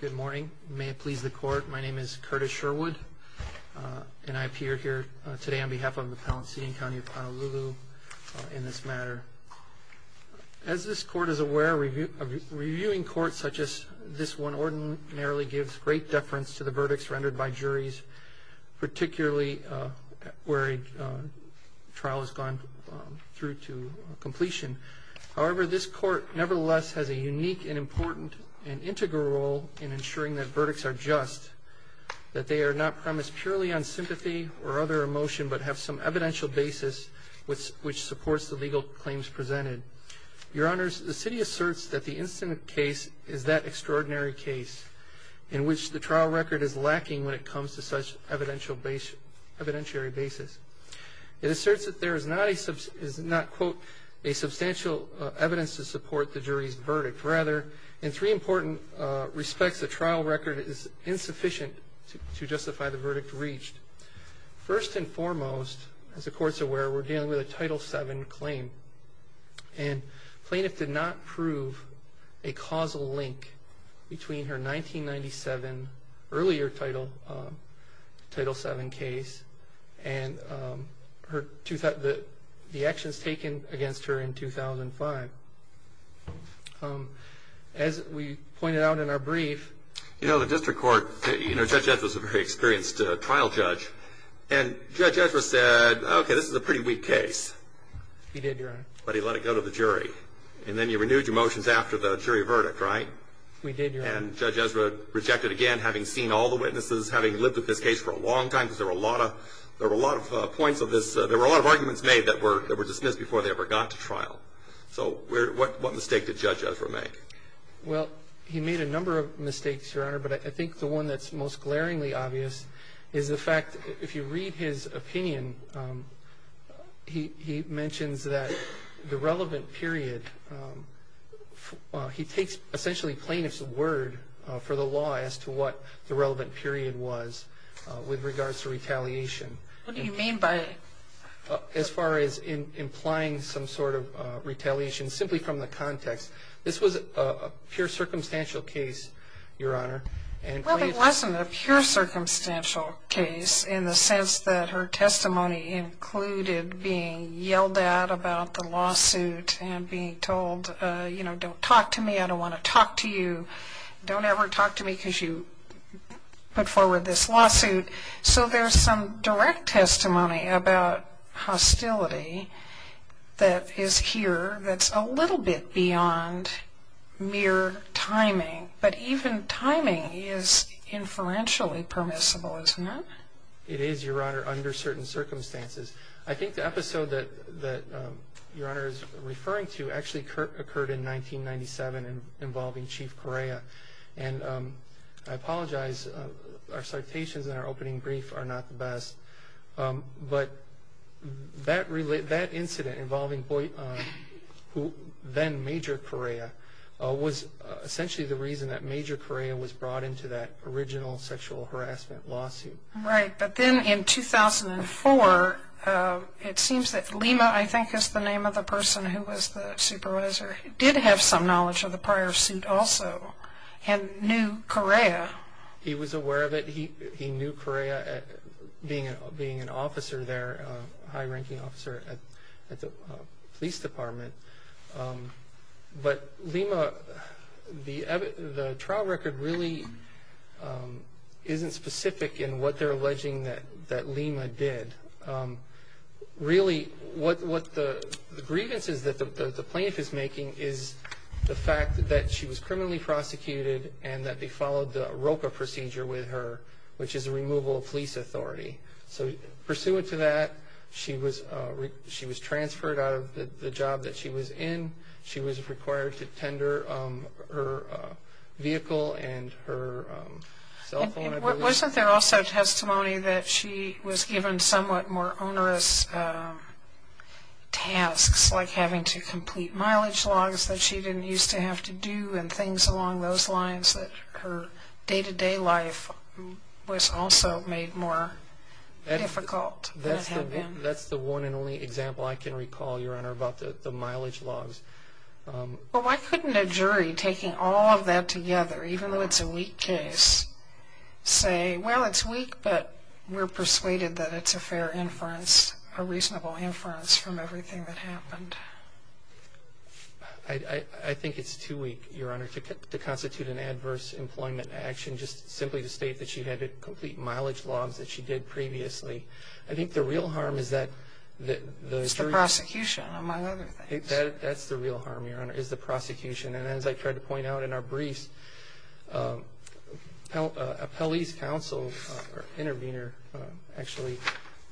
Good morning may it please the court my name is Curtis Sherwood and I appear here today on behalf of the Palisades County of Honolulu in this matter. As this court is aware review of reviewing courts such as this one ordinarily gives great deference to the verdicts rendered by juries particularly where a trial has gone through to completion however this court nevertheless has a unique and integral role in ensuring that verdicts are just that they are not premised purely on sympathy or other emotion but have some evidential basis with which supports the legal claims presented your honors the city asserts that the incident case is that extraordinary case in which the trial record is lacking when it comes to such evidential base evidentiary basis it asserts that there is not a sub is not quote a substantial evidence to support the jury's verdict rather in three important respects the trial record is insufficient to justify the verdict reached first and foremost as the courts aware we're dealing with a title 7 claim and plaintiff did not prove a causal link between her 1997 earlier title title 7 case and her to that the the actions taken against her in 2005 as we pointed out in our brief you know the district court judge was a very experienced trial judge and judge Ezra said okay this is a pretty weak case he did but he let it go to the jury and then you renewed your motions after the jury verdict right we did and judge Ezra rejected again having seen all the witnesses having lived with this case for a long time because there were a lot of there were a lot of points of this there were a lot of arguments made that were dismissed before they ever got to trial so what mistake did judge Ezra make? well he made a number of mistakes your honor but I think the one that's most glaringly obvious is the fact if you read his opinion he mentions that the relevant period he takes essentially plaintiffs word for the law as to what the relevant period was with regards to retaliation what do you mean by as far as in implying some sort of retaliation simply from the context this was a pure circumstantial case your honor and it wasn't a pure circumstantial case in the sense that her testimony included being yelled at about the lawsuit and being told you know don't talk to me I don't want to talk to you don't ever talk to me because you put forward this lawsuit so there's some direct testimony about hostility that is here that's a little bit beyond mere timing but even timing is inferentially permissible isn't it? it is your honor under certain circumstances I think the episode that that your honor is referring to actually occurred in 1997 and involving Chief Correa and I apologize our citations and our opening brief are not the best but that incident involving then Major Correa was essentially the reason that Major Correa was brought into that original sexual harassment lawsuit. Right but then in 2004 it seems that Lima I think is the name of the person who was the supervisor did have some knowledge of the being an officer there a high-ranking officer at the police department but Lima the the trial record really isn't specific in what they're alleging that that Lima did really what what the grievances that the plaintiff is making is the fact that she was criminally prosecuted and that they followed the police authority so pursuant to that she was she was transferred out of the job that she was in she was required to tender her vehicle and her cell phone. Wasn't there also testimony that she was given somewhat more onerous tasks like having to complete mileage logs that she didn't used to have to do and things along those lines that her day-to-day life was also made more difficult. That's the one and only example I can recall your honor about the mileage logs. Well why couldn't a jury taking all of that together even though it's a weak case say well it's weak but we're persuaded that it's a fair inference a reasonable inference from everything that happened. I think it's too weak your to constitute an adverse employment action just simply to state that you had to complete mileage logs that she did previously. I think the real harm is that the prosecution among other things. That's the real harm your honor is the prosecution and as I tried to point out in our briefs a police counsel intervener actually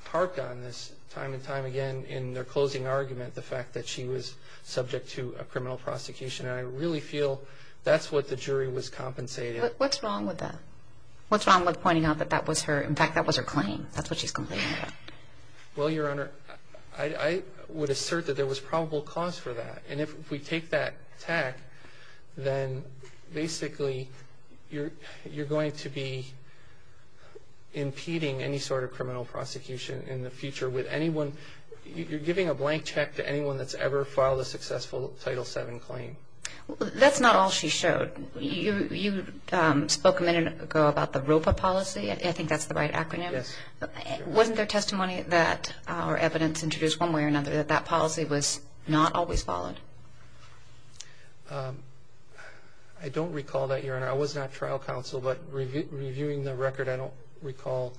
harked on this time and time again in their closing argument the fact that she was subject to a criminal prosecution and I really feel that's what the jury was compensated. What's wrong with that? What's wrong with pointing out that that was her in fact that was her claim that's what she's complaining about. Well your honor I would assert that there was probable cause for that and if we take that tack then basically you're you're going to be impeding any sort of criminal prosecution in the future with anyone you're giving a blank check to anyone that's ever filed a successful title 7 claim. That's not all she showed. You spoke a minute ago about the ROPA policy. I think that's the right acronym. Wasn't there testimony that our evidence introduced one way or another that that policy was not always followed? I don't recall that your honor. I was not trial counsel but reviewing the record I don't recall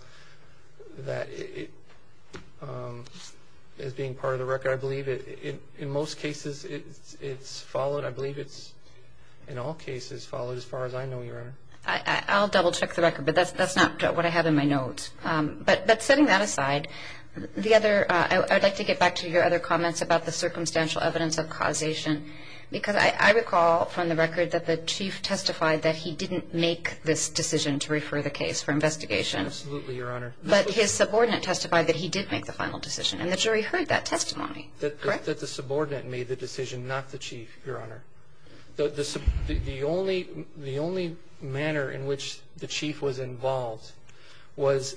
that as being part of the record. I believe it in most cases it's followed I believe it's in all cases followed as far as I know your honor. I'll double-check the record but that's that's not what I have in my notes but but setting that aside the other I'd like to get back to your other comments about the circumstantial evidence of causation because I recall from the record that the chief testified that he didn't make this decision to refer the case for investigation. Absolutely your honor. But his subordinate testified that he did make the final decision and the jury heard that testimony. That the subordinate made the decision not the chief your honor. The only the only manner in which the chief was involved was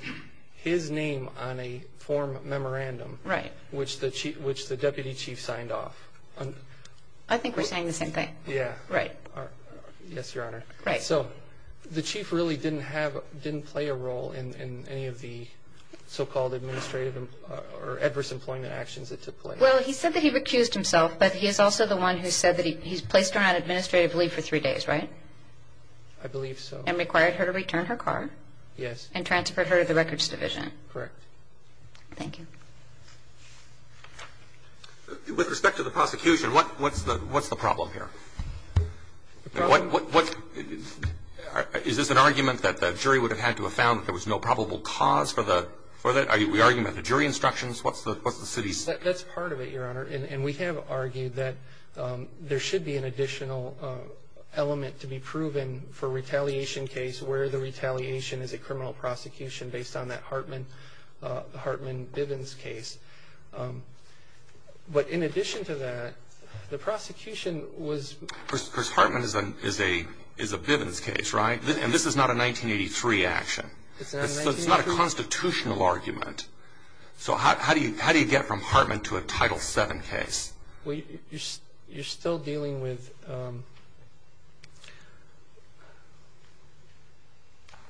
his name on a form memorandum. Right. Which the chief which the deputy chief signed off. I think we're saying the same thing. Yeah. Right. Yes your honor. Right. So the chief really didn't have didn't play a role in any of the so-called administrative or adverse employment actions that took place. Well he said that he recused himself but he is also the one who said that he's placed her on administrative leave for three days right. I believe so. And required her to return her car. Yes. And transfer her to the records division. Correct. Thank you. With respect to the prosecution what what's the what's the problem here? What what what is this an argument that the jury would have had to have found that there was no probable cause for the for the argument the jury instructions what's the what's the city's. That's part of it your honor. And we have argued that there should be an additional element to be proven for retaliation case where the retaliation is a criminal prosecution based on that Hartman Hartman Bivens case. But in addition to that the prosecution was. Hartman is a is a Bivens case right. And this is not a 1983 action. It's not a constitutional argument. So how do you how do you get from Hartman to a Title 7 case. You're still dealing with.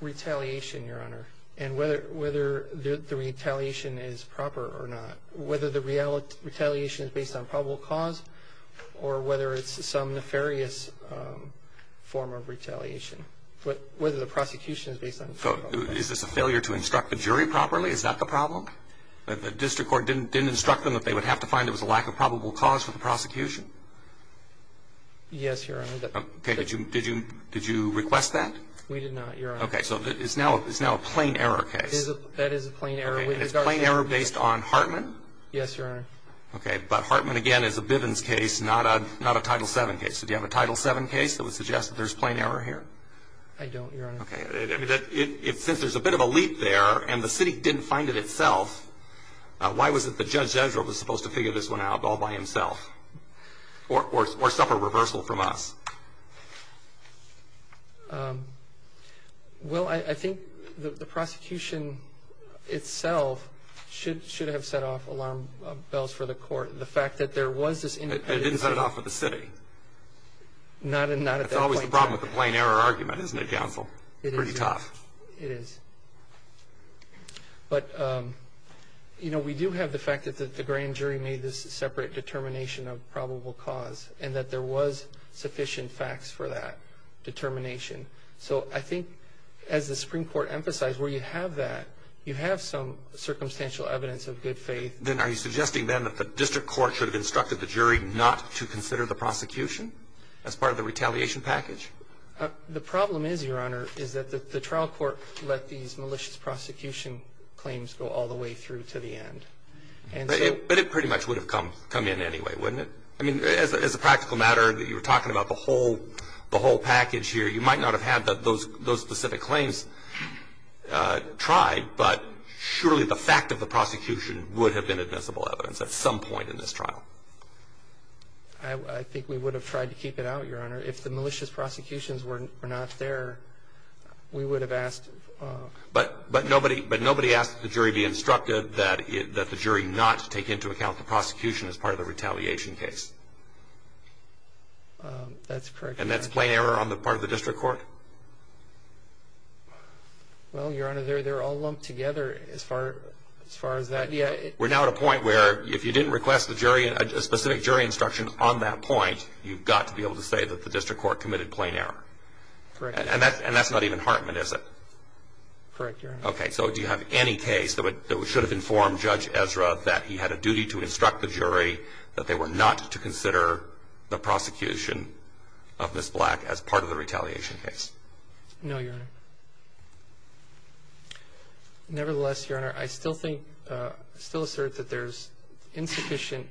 Retaliation your honor. And whether whether the retaliation is proper or not. Whether the reality retaliation is based on probable cause or whether it's some nefarious form of retaliation. But whether the is that the problem that the district court didn't didn't instruct them that they would have to find it was a lack of probable cause for the prosecution. Yes your honor. Did you did you did you request that. We did not. OK. So it's now it's now a plain error case. That is a plain error. It is a plain error based on Hartman. Yes your honor. OK. But Hartman again is a Bivens case not a not a Title 7 case. So do you have a Title 7 case that would suggest that there's plain error here. I don't your honor. OK. If since there's a bit of a and the city didn't find it itself. Why was it that Judge Ezra was supposed to figure this one out all by himself. Or or or suffer reversal from us. Well I think the prosecution itself should should have set off alarm bells for the court. The fact that there was this independent. It didn't set it off for the city. Not and not at that point. That's always the problem with the but you know we do have the fact that the grand jury made this separate determination of probable cause and that there was sufficient facts for that determination. So I think as the Supreme Court emphasized where you have that you have some circumstantial evidence of good faith. Then are you suggesting then that the district court should have instructed the jury not to consider the prosecution as part of the retaliation package. The problem is your honor is that the trial court let these malicious prosecution claims go all the way through to the end. But it pretty much would have come come in anyway wouldn't it. I mean as a practical matter that you were talking about the whole the whole package here you might not have had those those specific claims tried but surely the fact of the prosecution would have been admissible evidence at some point in this trial. I think we would have tried to keep it out your honor if the we would have asked. But but nobody but nobody asked the jury be instructed that that the jury not to take into account the prosecution as part of the retaliation case. That's correct. And that's plain error on the part of the district court. Well your honor they're they're all lumped together as far as far as that. Yeah we're now at a point where if you didn't request the jury a specific jury instruction on that point you've got to be able to say that the district court committed plain error. And that's not even Hartman is it? Correct. Okay so do you have any case that would should have informed Judge Ezra that he had a duty to instruct the jury that they were not to consider the prosecution of Ms. Black as part of the retaliation case? No your honor. Nevertheless your honor I still think still assert that there's insufficient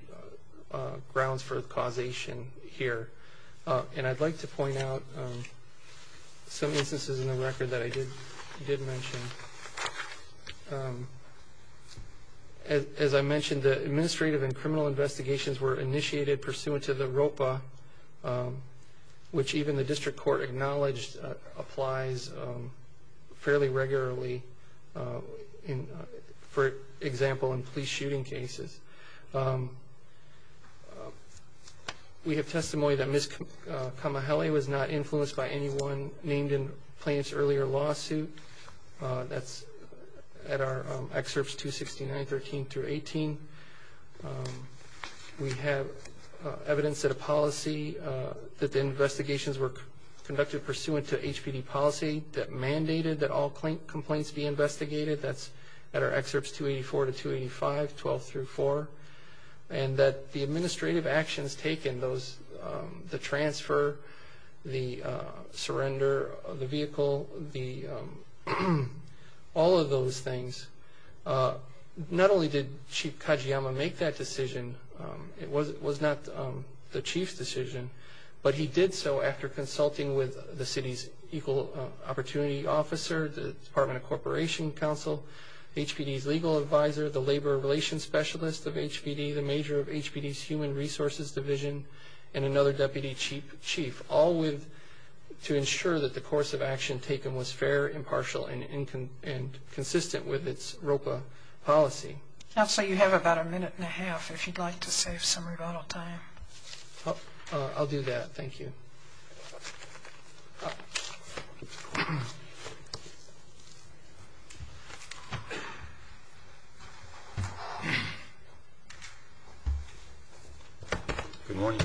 grounds for causation here. And I'd like to point out some instances in the record that I did did mention. As I mentioned the administrative and criminal investigations were initiated pursuant to the ROPA which even the district court acknowledged applies fairly regularly in for example in police shooting cases. We have testimony that Ms. Kamahele was not influenced by anyone named in plaintiff's earlier lawsuit. That's at our excerpts 269 13 through 18. We have evidence that a policy that the investigations were conducted pursuant to HPD policy that mandated that all complaints be investigated. That's at our excerpts 284 to 285 12 through 4. And that the administrative actions taken those the transfer the surrender of the vehicle the all of those things. Not only did Chief Kajiyama make that decision it was it was not the chief's but he did so after consulting with the city's equal opportunity officer the department of corporation council HPD's legal advisor the labor relations specialist of HPD the major of HPD's human resources division and another deputy chief all with to ensure that the course of action taken was fair impartial and inconsistent with its ROPA policy. Counselor you have about a minute and a half if you'd like to save some rebuttal time. I'll do that. Thank you. Good morning.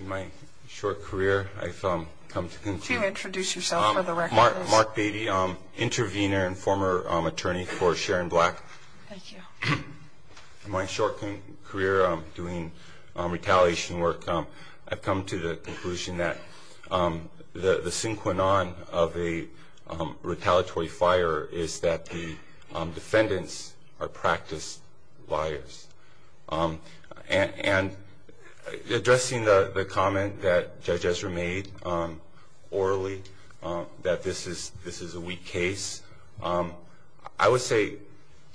In my short career I've come to introduce yourself for the record. I'm Mark Beatty. I'm an intervener and former attorney for Sharon Black. In my short career I'm doing retaliation work. I've come to the conclusion that the the synchronon of a retaliatory fire is that the defendants are practiced liars. And addressing the the comment that Judge Ezra made orally that this this is a weak case I would say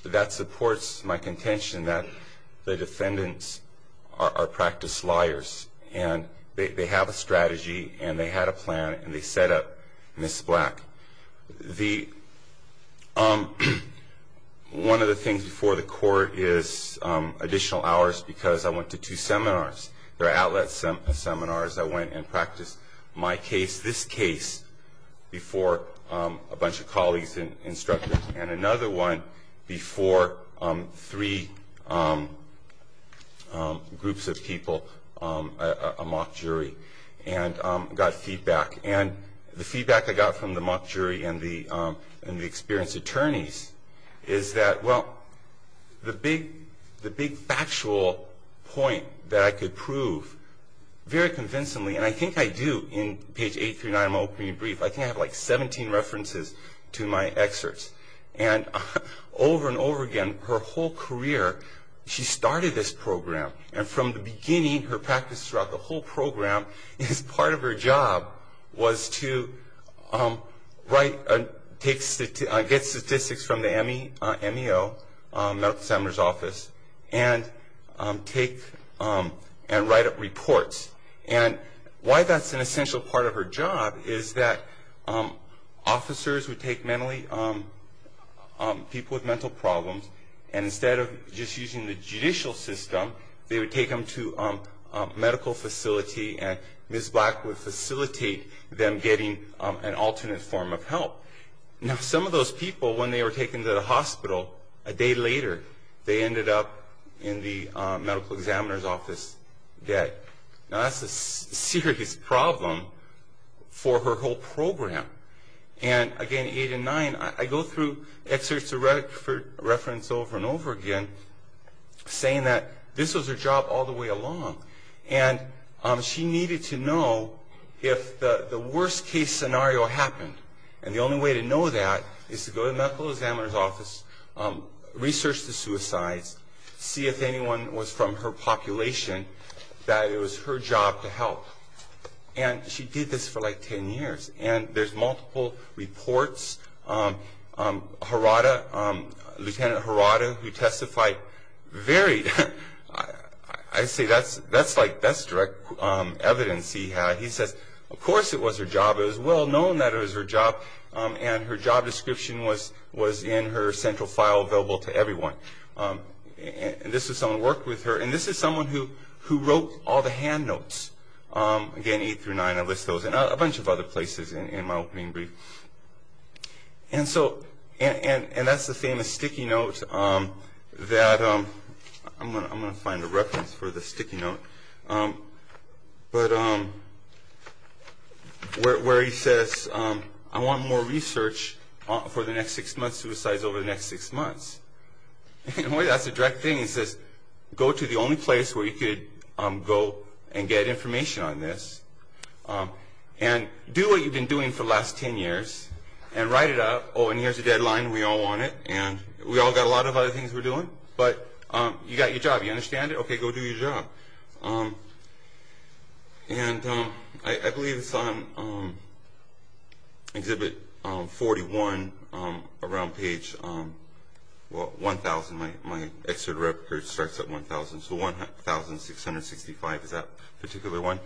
that supports my contention that the defendants are practiced liars and they have a strategy and they had a plan and they set up Ms. Black. One of the things before the court is additional hours because I went to two seminars. There are outlet seminars I went and before a bunch of colleagues and instructors and another one before three groups of people a mock jury and got feedback and the feedback I got from the mock jury and the and the experienced attorneys is that well the big the big factual point that I could prove very convincingly and I think I do in page eight through nine I'm opening brief I think I have like 17 references to my excerpts. And over and over again her whole career she started this program and from the beginning her practice throughout the whole program is part of her job was to write and take get statistics from the MEO Medical Examiner's Office and take and write up reports. And why that's an essential part of her job is that officers would take mentally people with mental problems and instead of just using the judicial system they would take them to medical facility and Ms. Black would facilitate them getting an alternate form of help. Now some of those people when they were taken to the hospital a day later they ended up in the Medical Examiner's Office dead. Now that's a serious problem for her whole program. And again eight and nine I go through excerpts of reference over and over again saying that this was her job all the way along. And she needed to know if the worst case scenario happened and the only way to know that is to go to the Medical Examiner's Office, research the And she did this for like ten years and there's multiple reports. Harada, Lieutenant Harada who testified very, I say that's direct evidence he had. He says of course it was her job. It was well known that it was her job and her job description was in her central file available to everyone. And this is someone who worked with her and this is someone who wrote all the hand notes. Again eight through nine I list those and a bunch of other places in my opening brief. And that's the famous sticky note that I'm going to find a reference for the sticky note. But where he says I want more research for the next six months over the next six months. In a way that's a direct thing. He says go to the only place where you could go and get information on this. And do what you've been doing for the last ten years and write it up. Oh and here's the deadline and we all want it. And we all got a lot of other things we're doing. But you got your job. You understand it? Okay go do your job. And I believe it's on exhibit 41 around page well 1,000. My excerpt record starts at 1,000. So 1,665 is that particular one.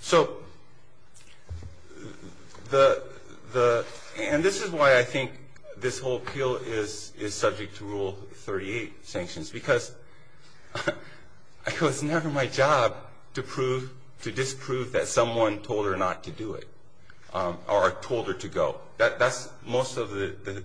So and this is why I think this whole appeal is subject to rule 38 sanctions. Because it's never my job to disprove that someone told her not to do it. Or told her to go. That's most of the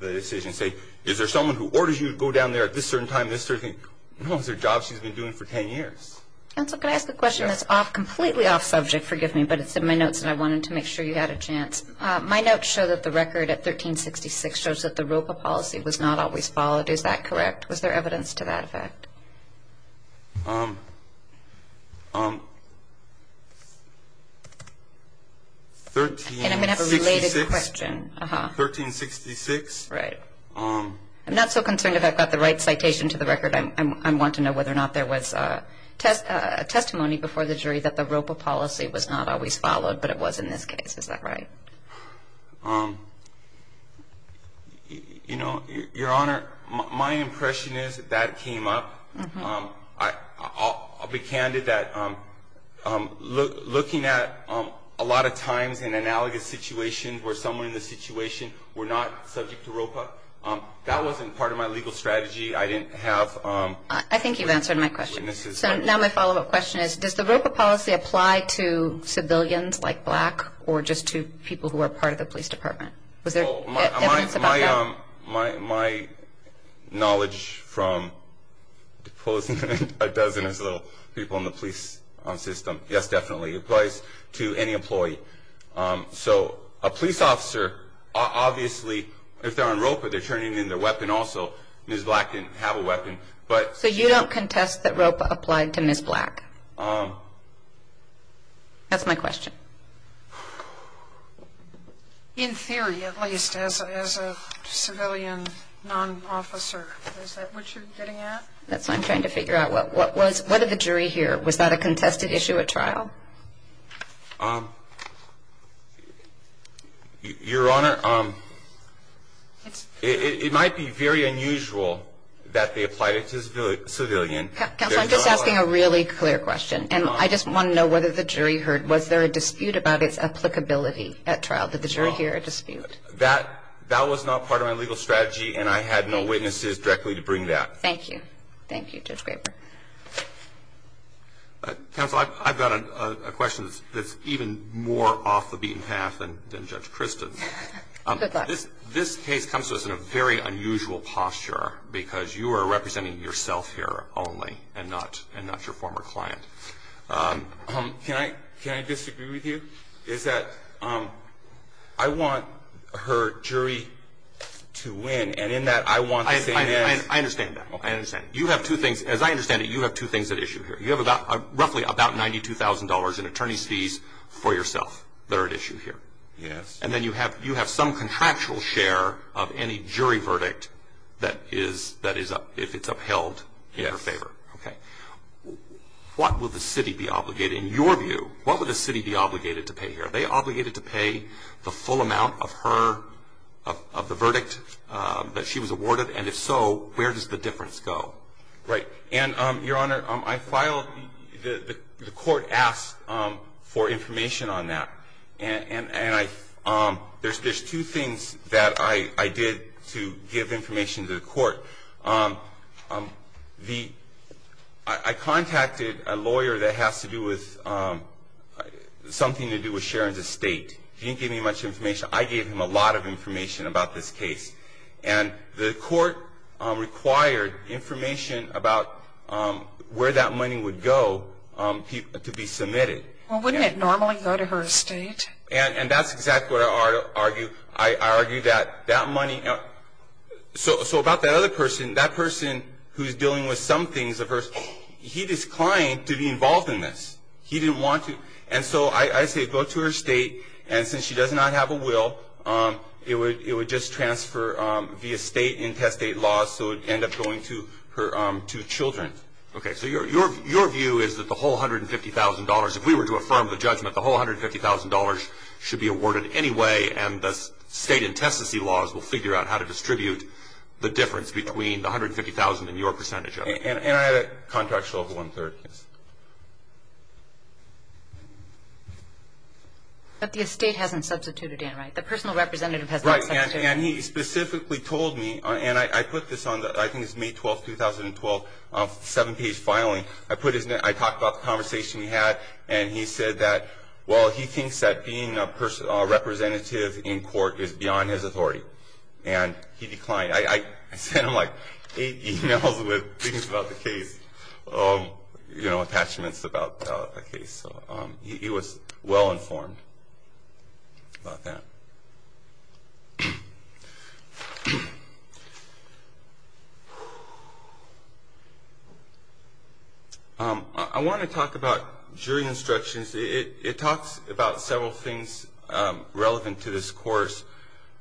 decision. Say is there someone who orders you to go down there at this certain time, this certain thing. No it's their job she's been doing for ten years. Counsel can I ask a question that's off completely off subject forgive me. But it's in my notes and I wanted to make sure you had a chance. My notes show that the record at 1,366 shows that the ROPA policy was not always followed. Is that correct? Was there evidence to that effect? 1,366. And I'm going to have a related question. 1,366. Right. I'm not so concerned if I've got the right citation to the record. I want to know whether or not there was a testimony before the jury that the ROPA policy was not always followed. But it was in this case. Is that right? You know your honor my impression is that came up. I'll be candid that looking at a lot of times in analogous situations where someone in the situation were not subject to ROPA. That wasn't part of my legal strategy. I didn't have. I think you've answered my question. So now my follow up question is does the ROPA policy apply to civilians like black or just to people who are part of the police department? Was there evidence about that? My knowledge from a dozen or so people in the police system. Yes definitely. It applies to any employee. So a police officer obviously if they're on ROPA they're turning in their weapon also. Ms. Black didn't have a weapon. So you don't contest that ROPA applied to Ms. Black? That's my question. In theory at least as a civilian non-officer. Is that what you're getting at? That's what I'm trying to figure out. What was what did the jury hear? Was that a contested issue at trial? Your honor it might be very unusual that they applied it to civilian. Counsel I'm just asking a really clear question and I just want to know whether the jury heard was there a dispute about its applicability at trial? Did the jury hear a dispute? That was not part of my legal strategy and I had no witnesses directly to bring that. Thank you. Thank you Judge Graber. Counsel I've got a question that's even more off the beaten path than Judge Kristen. This case comes to us in a very unusual posture because you are representing yourself here only and not your former client. Can I disagree with you? Is that I want her jury to win and in that I want to say yes. I understand that. You have two things as I understand it you have two things at issue here. You have roughly about $92,000 in attorney's fees for yourself that are at issue here. Yes. And then you have you have some contractual share of any jury verdict that is that in her favor. Yes. Okay. What will the city be obligated in your view what would the city be obligated to pay here? Are they obligated to pay the full amount of her of the verdict that she was awarded and if so where does the difference go? Right and your honor I filed the court asked for information on that and I there's two things that I did to give information to the court. The I contacted a lawyer that has to do with something to do with Sharon's estate. He didn't give me much information. I gave him a lot of information about this case and the court required information about where that money would go to be submitted. Well wouldn't it normally go to her estate? And that's exactly what I argue. I argue that that money so so about that other person that person who's dealing with some things of hers he disclined to be involved in this. He didn't want to and so I say go to her estate and since she does not have a will it would it would just transfer via state intestate laws so it end up going to her two children. Okay so your your view is that the whole $150,000 if we were to affirm the judgment the whole $150,000 should be awarded anyway and the state intestacy laws will figure out how to distribute the difference between the $150,000 and your percentage of it. And I have a contractual over one-third. But the estate hasn't substituted in right? The personal representative hasn't. Right and he specifically told me and I put this on the I think it's May 12, 2012 seven page filing. I put his name I talked about the conversation we had and he said that well he thinks that being a person a representative in court is beyond his authority and he declined. I sent him like eight emails with things about the case. You know attachments about the case. He was well informed about that. I want to talk about jury instructions. It talks about several things relevant to this course.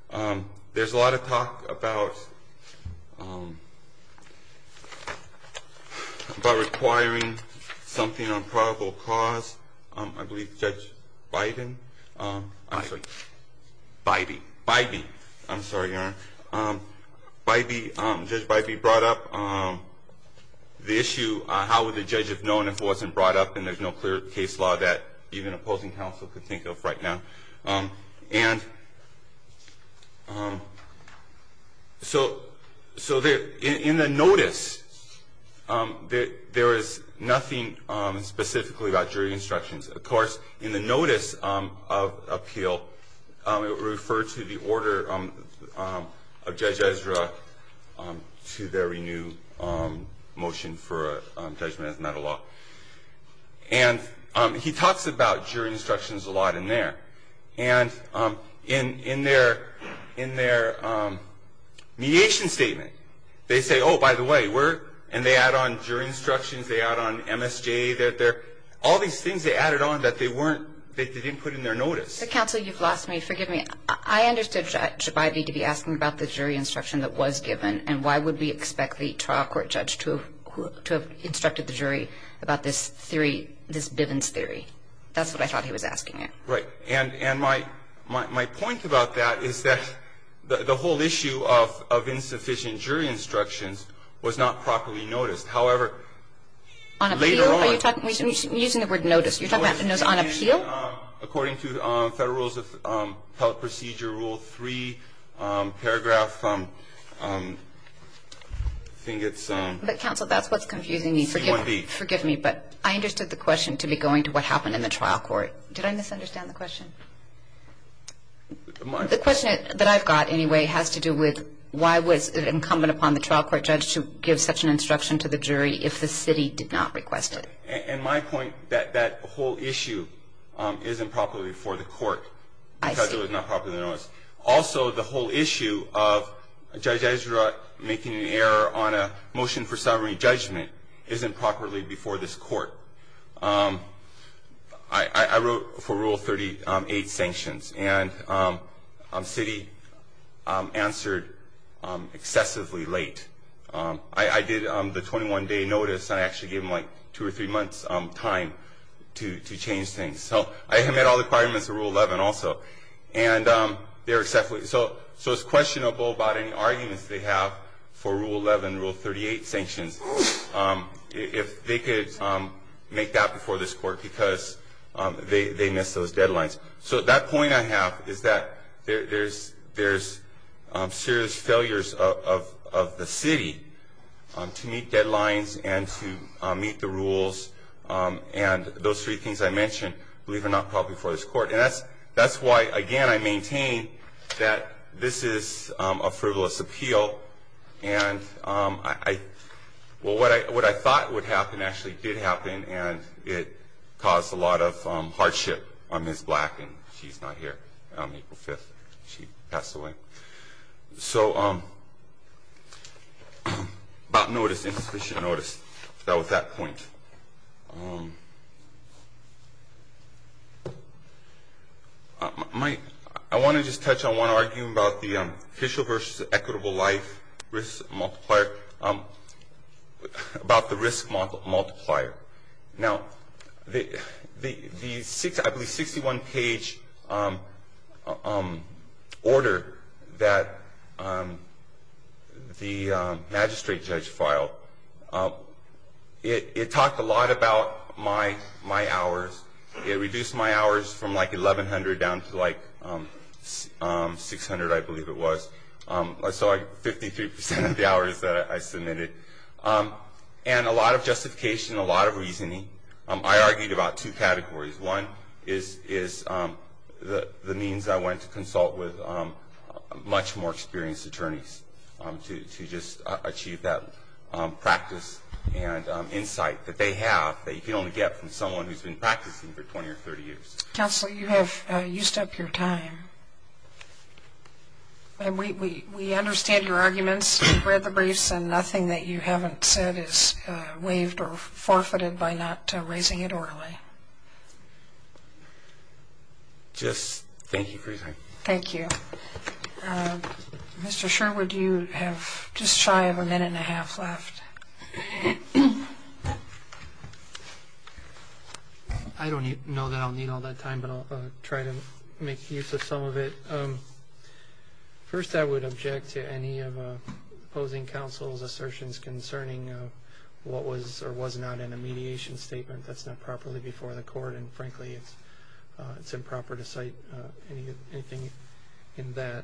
There's a clause about requiring something on probable cause. I believe Judge Bybee brought up the issue how would the judge have known if it wasn't brought up and there's no clear case law that even opposing counsel could think of right now. So in the notice there is nothing specifically about jury instructions. Of course in the notice of appeal it referred to the order of Judge Ezra to their renewed motion for a judgment as a matter of law. And he talks about jury instructions a lot in there. And in their mediation statement they say oh by the way and they add on jury instructions, they add on MSJ. All these things they added on that they didn't put in their notice. Counsel you've lost me. Forgive me. I understood Judge Bybee to be asking about the jury instruction that was given and why would we expect the trial court judge to have instructed the jury about this theory, this Bivens theory. That's what I thought he was asking it. Right. And my point about that is that the whole issue of insufficient jury instructions was not properly noticed. However, later on On appeal? Are you talking, you're using the word notice. You're talking about on appeal? According to Federal Rules of Appellate Procedure Rule 3 paragraph I think it's But counsel that's what's confusing me. Forgive me but I understood the question to be going to what happened in the trial court. Did I misunderstand the question? The question that I've got anyway has to do with why was it incumbent upon the trial court judge to give such an instruction to the jury if the city did not request it? And my point that that whole issue is improperly before the court because it was not properly noticed. Also the whole issue of Judge Ezra making an error on a motion for summary judgment isn't properly before this court. I wrote for Rule 38 sanctions and city answered excessively late. I did the 21 day notice and I actually gave them like two or three months time to change things. So I have met all the requirements of Rule 11 also. So it's questionable about any arguments they have for Rule 11, Rule 38 sanctions. If they could make that before this court because they missed those deadlines. So that point I have is that there's serious failures of the city to meet deadlines and to meet the rules. And those three things I mentioned, believe it or not, probably before this court. And that's why, again, I maintain that this is a frivolous appeal. And what I thought would happen actually did happen and it caused a lot of hardship on Ms. Black and she's not here. April 5th she passed away. So about notice, insufficient notice. That was that point. I want to just touch on one argument about the official versus equitable life risk multiplier, about the risk multiplier. Now the 61 page order that the magistrate judge filed, it talked a lot about my hours. It reduced my hours from like 1,100 down to like 600 I believe it was. So 53% of the hours that I submitted. And a lot of justification, a lot of argument. I argued about two categories. One is the means I went to consult with much more experienced attorneys to just achieve that practice and insight that they have that you can only get from someone who's been practicing for 20 or 30 years. Counsel, you have used up your time. We understand your arguments. We've read the briefs and nothing that you haven't said is waived or forfeited by not raising it orally. Just thank you for your time. Thank you. Mr. Sherwood, you have just shy of a minute and a half left. I don't know that I'll need all that time, but I'll try to make use of some of it. First I would object to any of opposing counsel's assertions concerning what was or was not in a mediation statement that's not properly before the court. And frankly, it's improper to cite anything in that.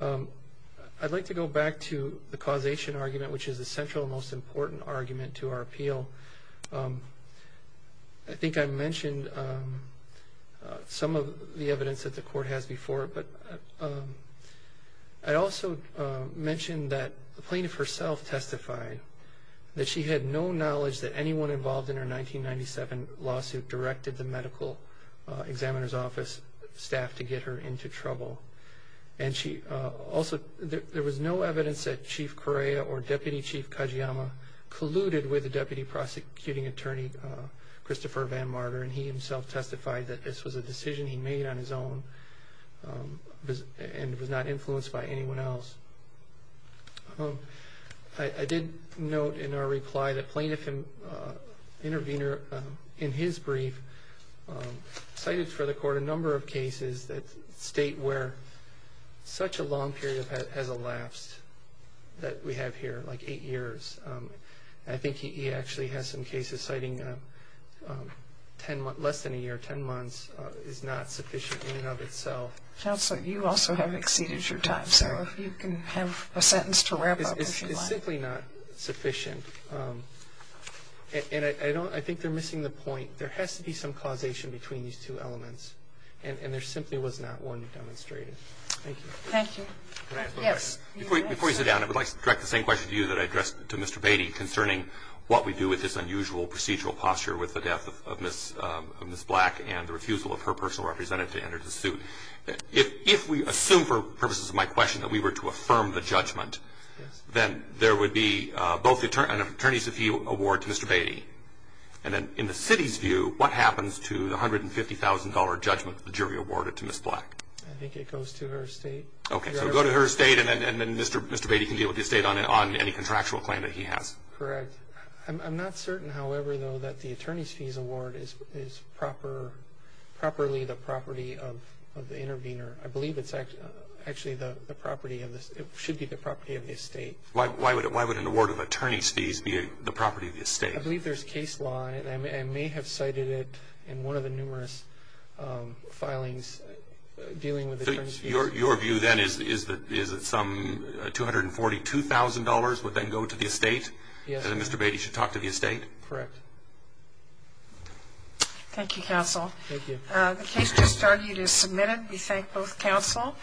I'd like to go back to the causation argument, which is the central most important argument to our appeal. I think I mentioned some of the evidence that the court has before, but I also mentioned that the plaintiff herself testified that she had no knowledge that anyone involved in her 1997 lawsuit directed the medical examiner's office staff to get her into trouble. And she also, there was no evidence that Chief Correa or Deputy Chief Kajiyama colluded with the deputy prosecuting attorney, Christopher Van Marder, and he himself testified that this was a decision he made on his own and was not influenced by anyone else. I did note in our reply that plaintiff intervener in his brief cited for the court a number of cases that state where such a long period has elapsed that we have here, like eight years. I think he actually has some cases citing less than a year, 10 months, is not sufficient in and of itself. Counsel, you also have exceeded your time. So if you can have a sentence to wrap up. It's simply not sufficient. And I think they're missing the point. There has to be some causation between these two elements. And there simply was not one demonstrated. Thank you. Thank you. Can I ask a question? Yes. Before you sit down, I would like to direct the same question to you that I addressed to Mr. Beatty concerning what we do with this unusual procedural posture with the death of Ms. Black and the refusal of her personal representative to enter the suit. If we assume, for purposes of my question, that we were to affirm the judgment, then there would be both an attorney's review award to Mr. Beatty. And then in the city's view, what happens to the $150,000 judgment the jury awarded to Ms. Black? I think it goes to her estate. Okay. So it goes to her estate, and then Mr. Beatty can deal with the estate on any contractual claim that he has. Correct. I'm not certain, however, though, that the attorney's fees award is properly the property of the intervener. I believe it's actually the property of the estate. It should be the property of the estate. Why would an award of attorney's fees be the property of the estate? I believe there's case law, and I may have cited it in one of the numerous filings dealing with attorney's fees. Your view, then, is that some $242,000 would then go to the estate? Yes. And then Mr. Beatty should talk to the estate? Correct. Thank you, counsel. Thank you. The case just argued is submitted. We thank both counsel.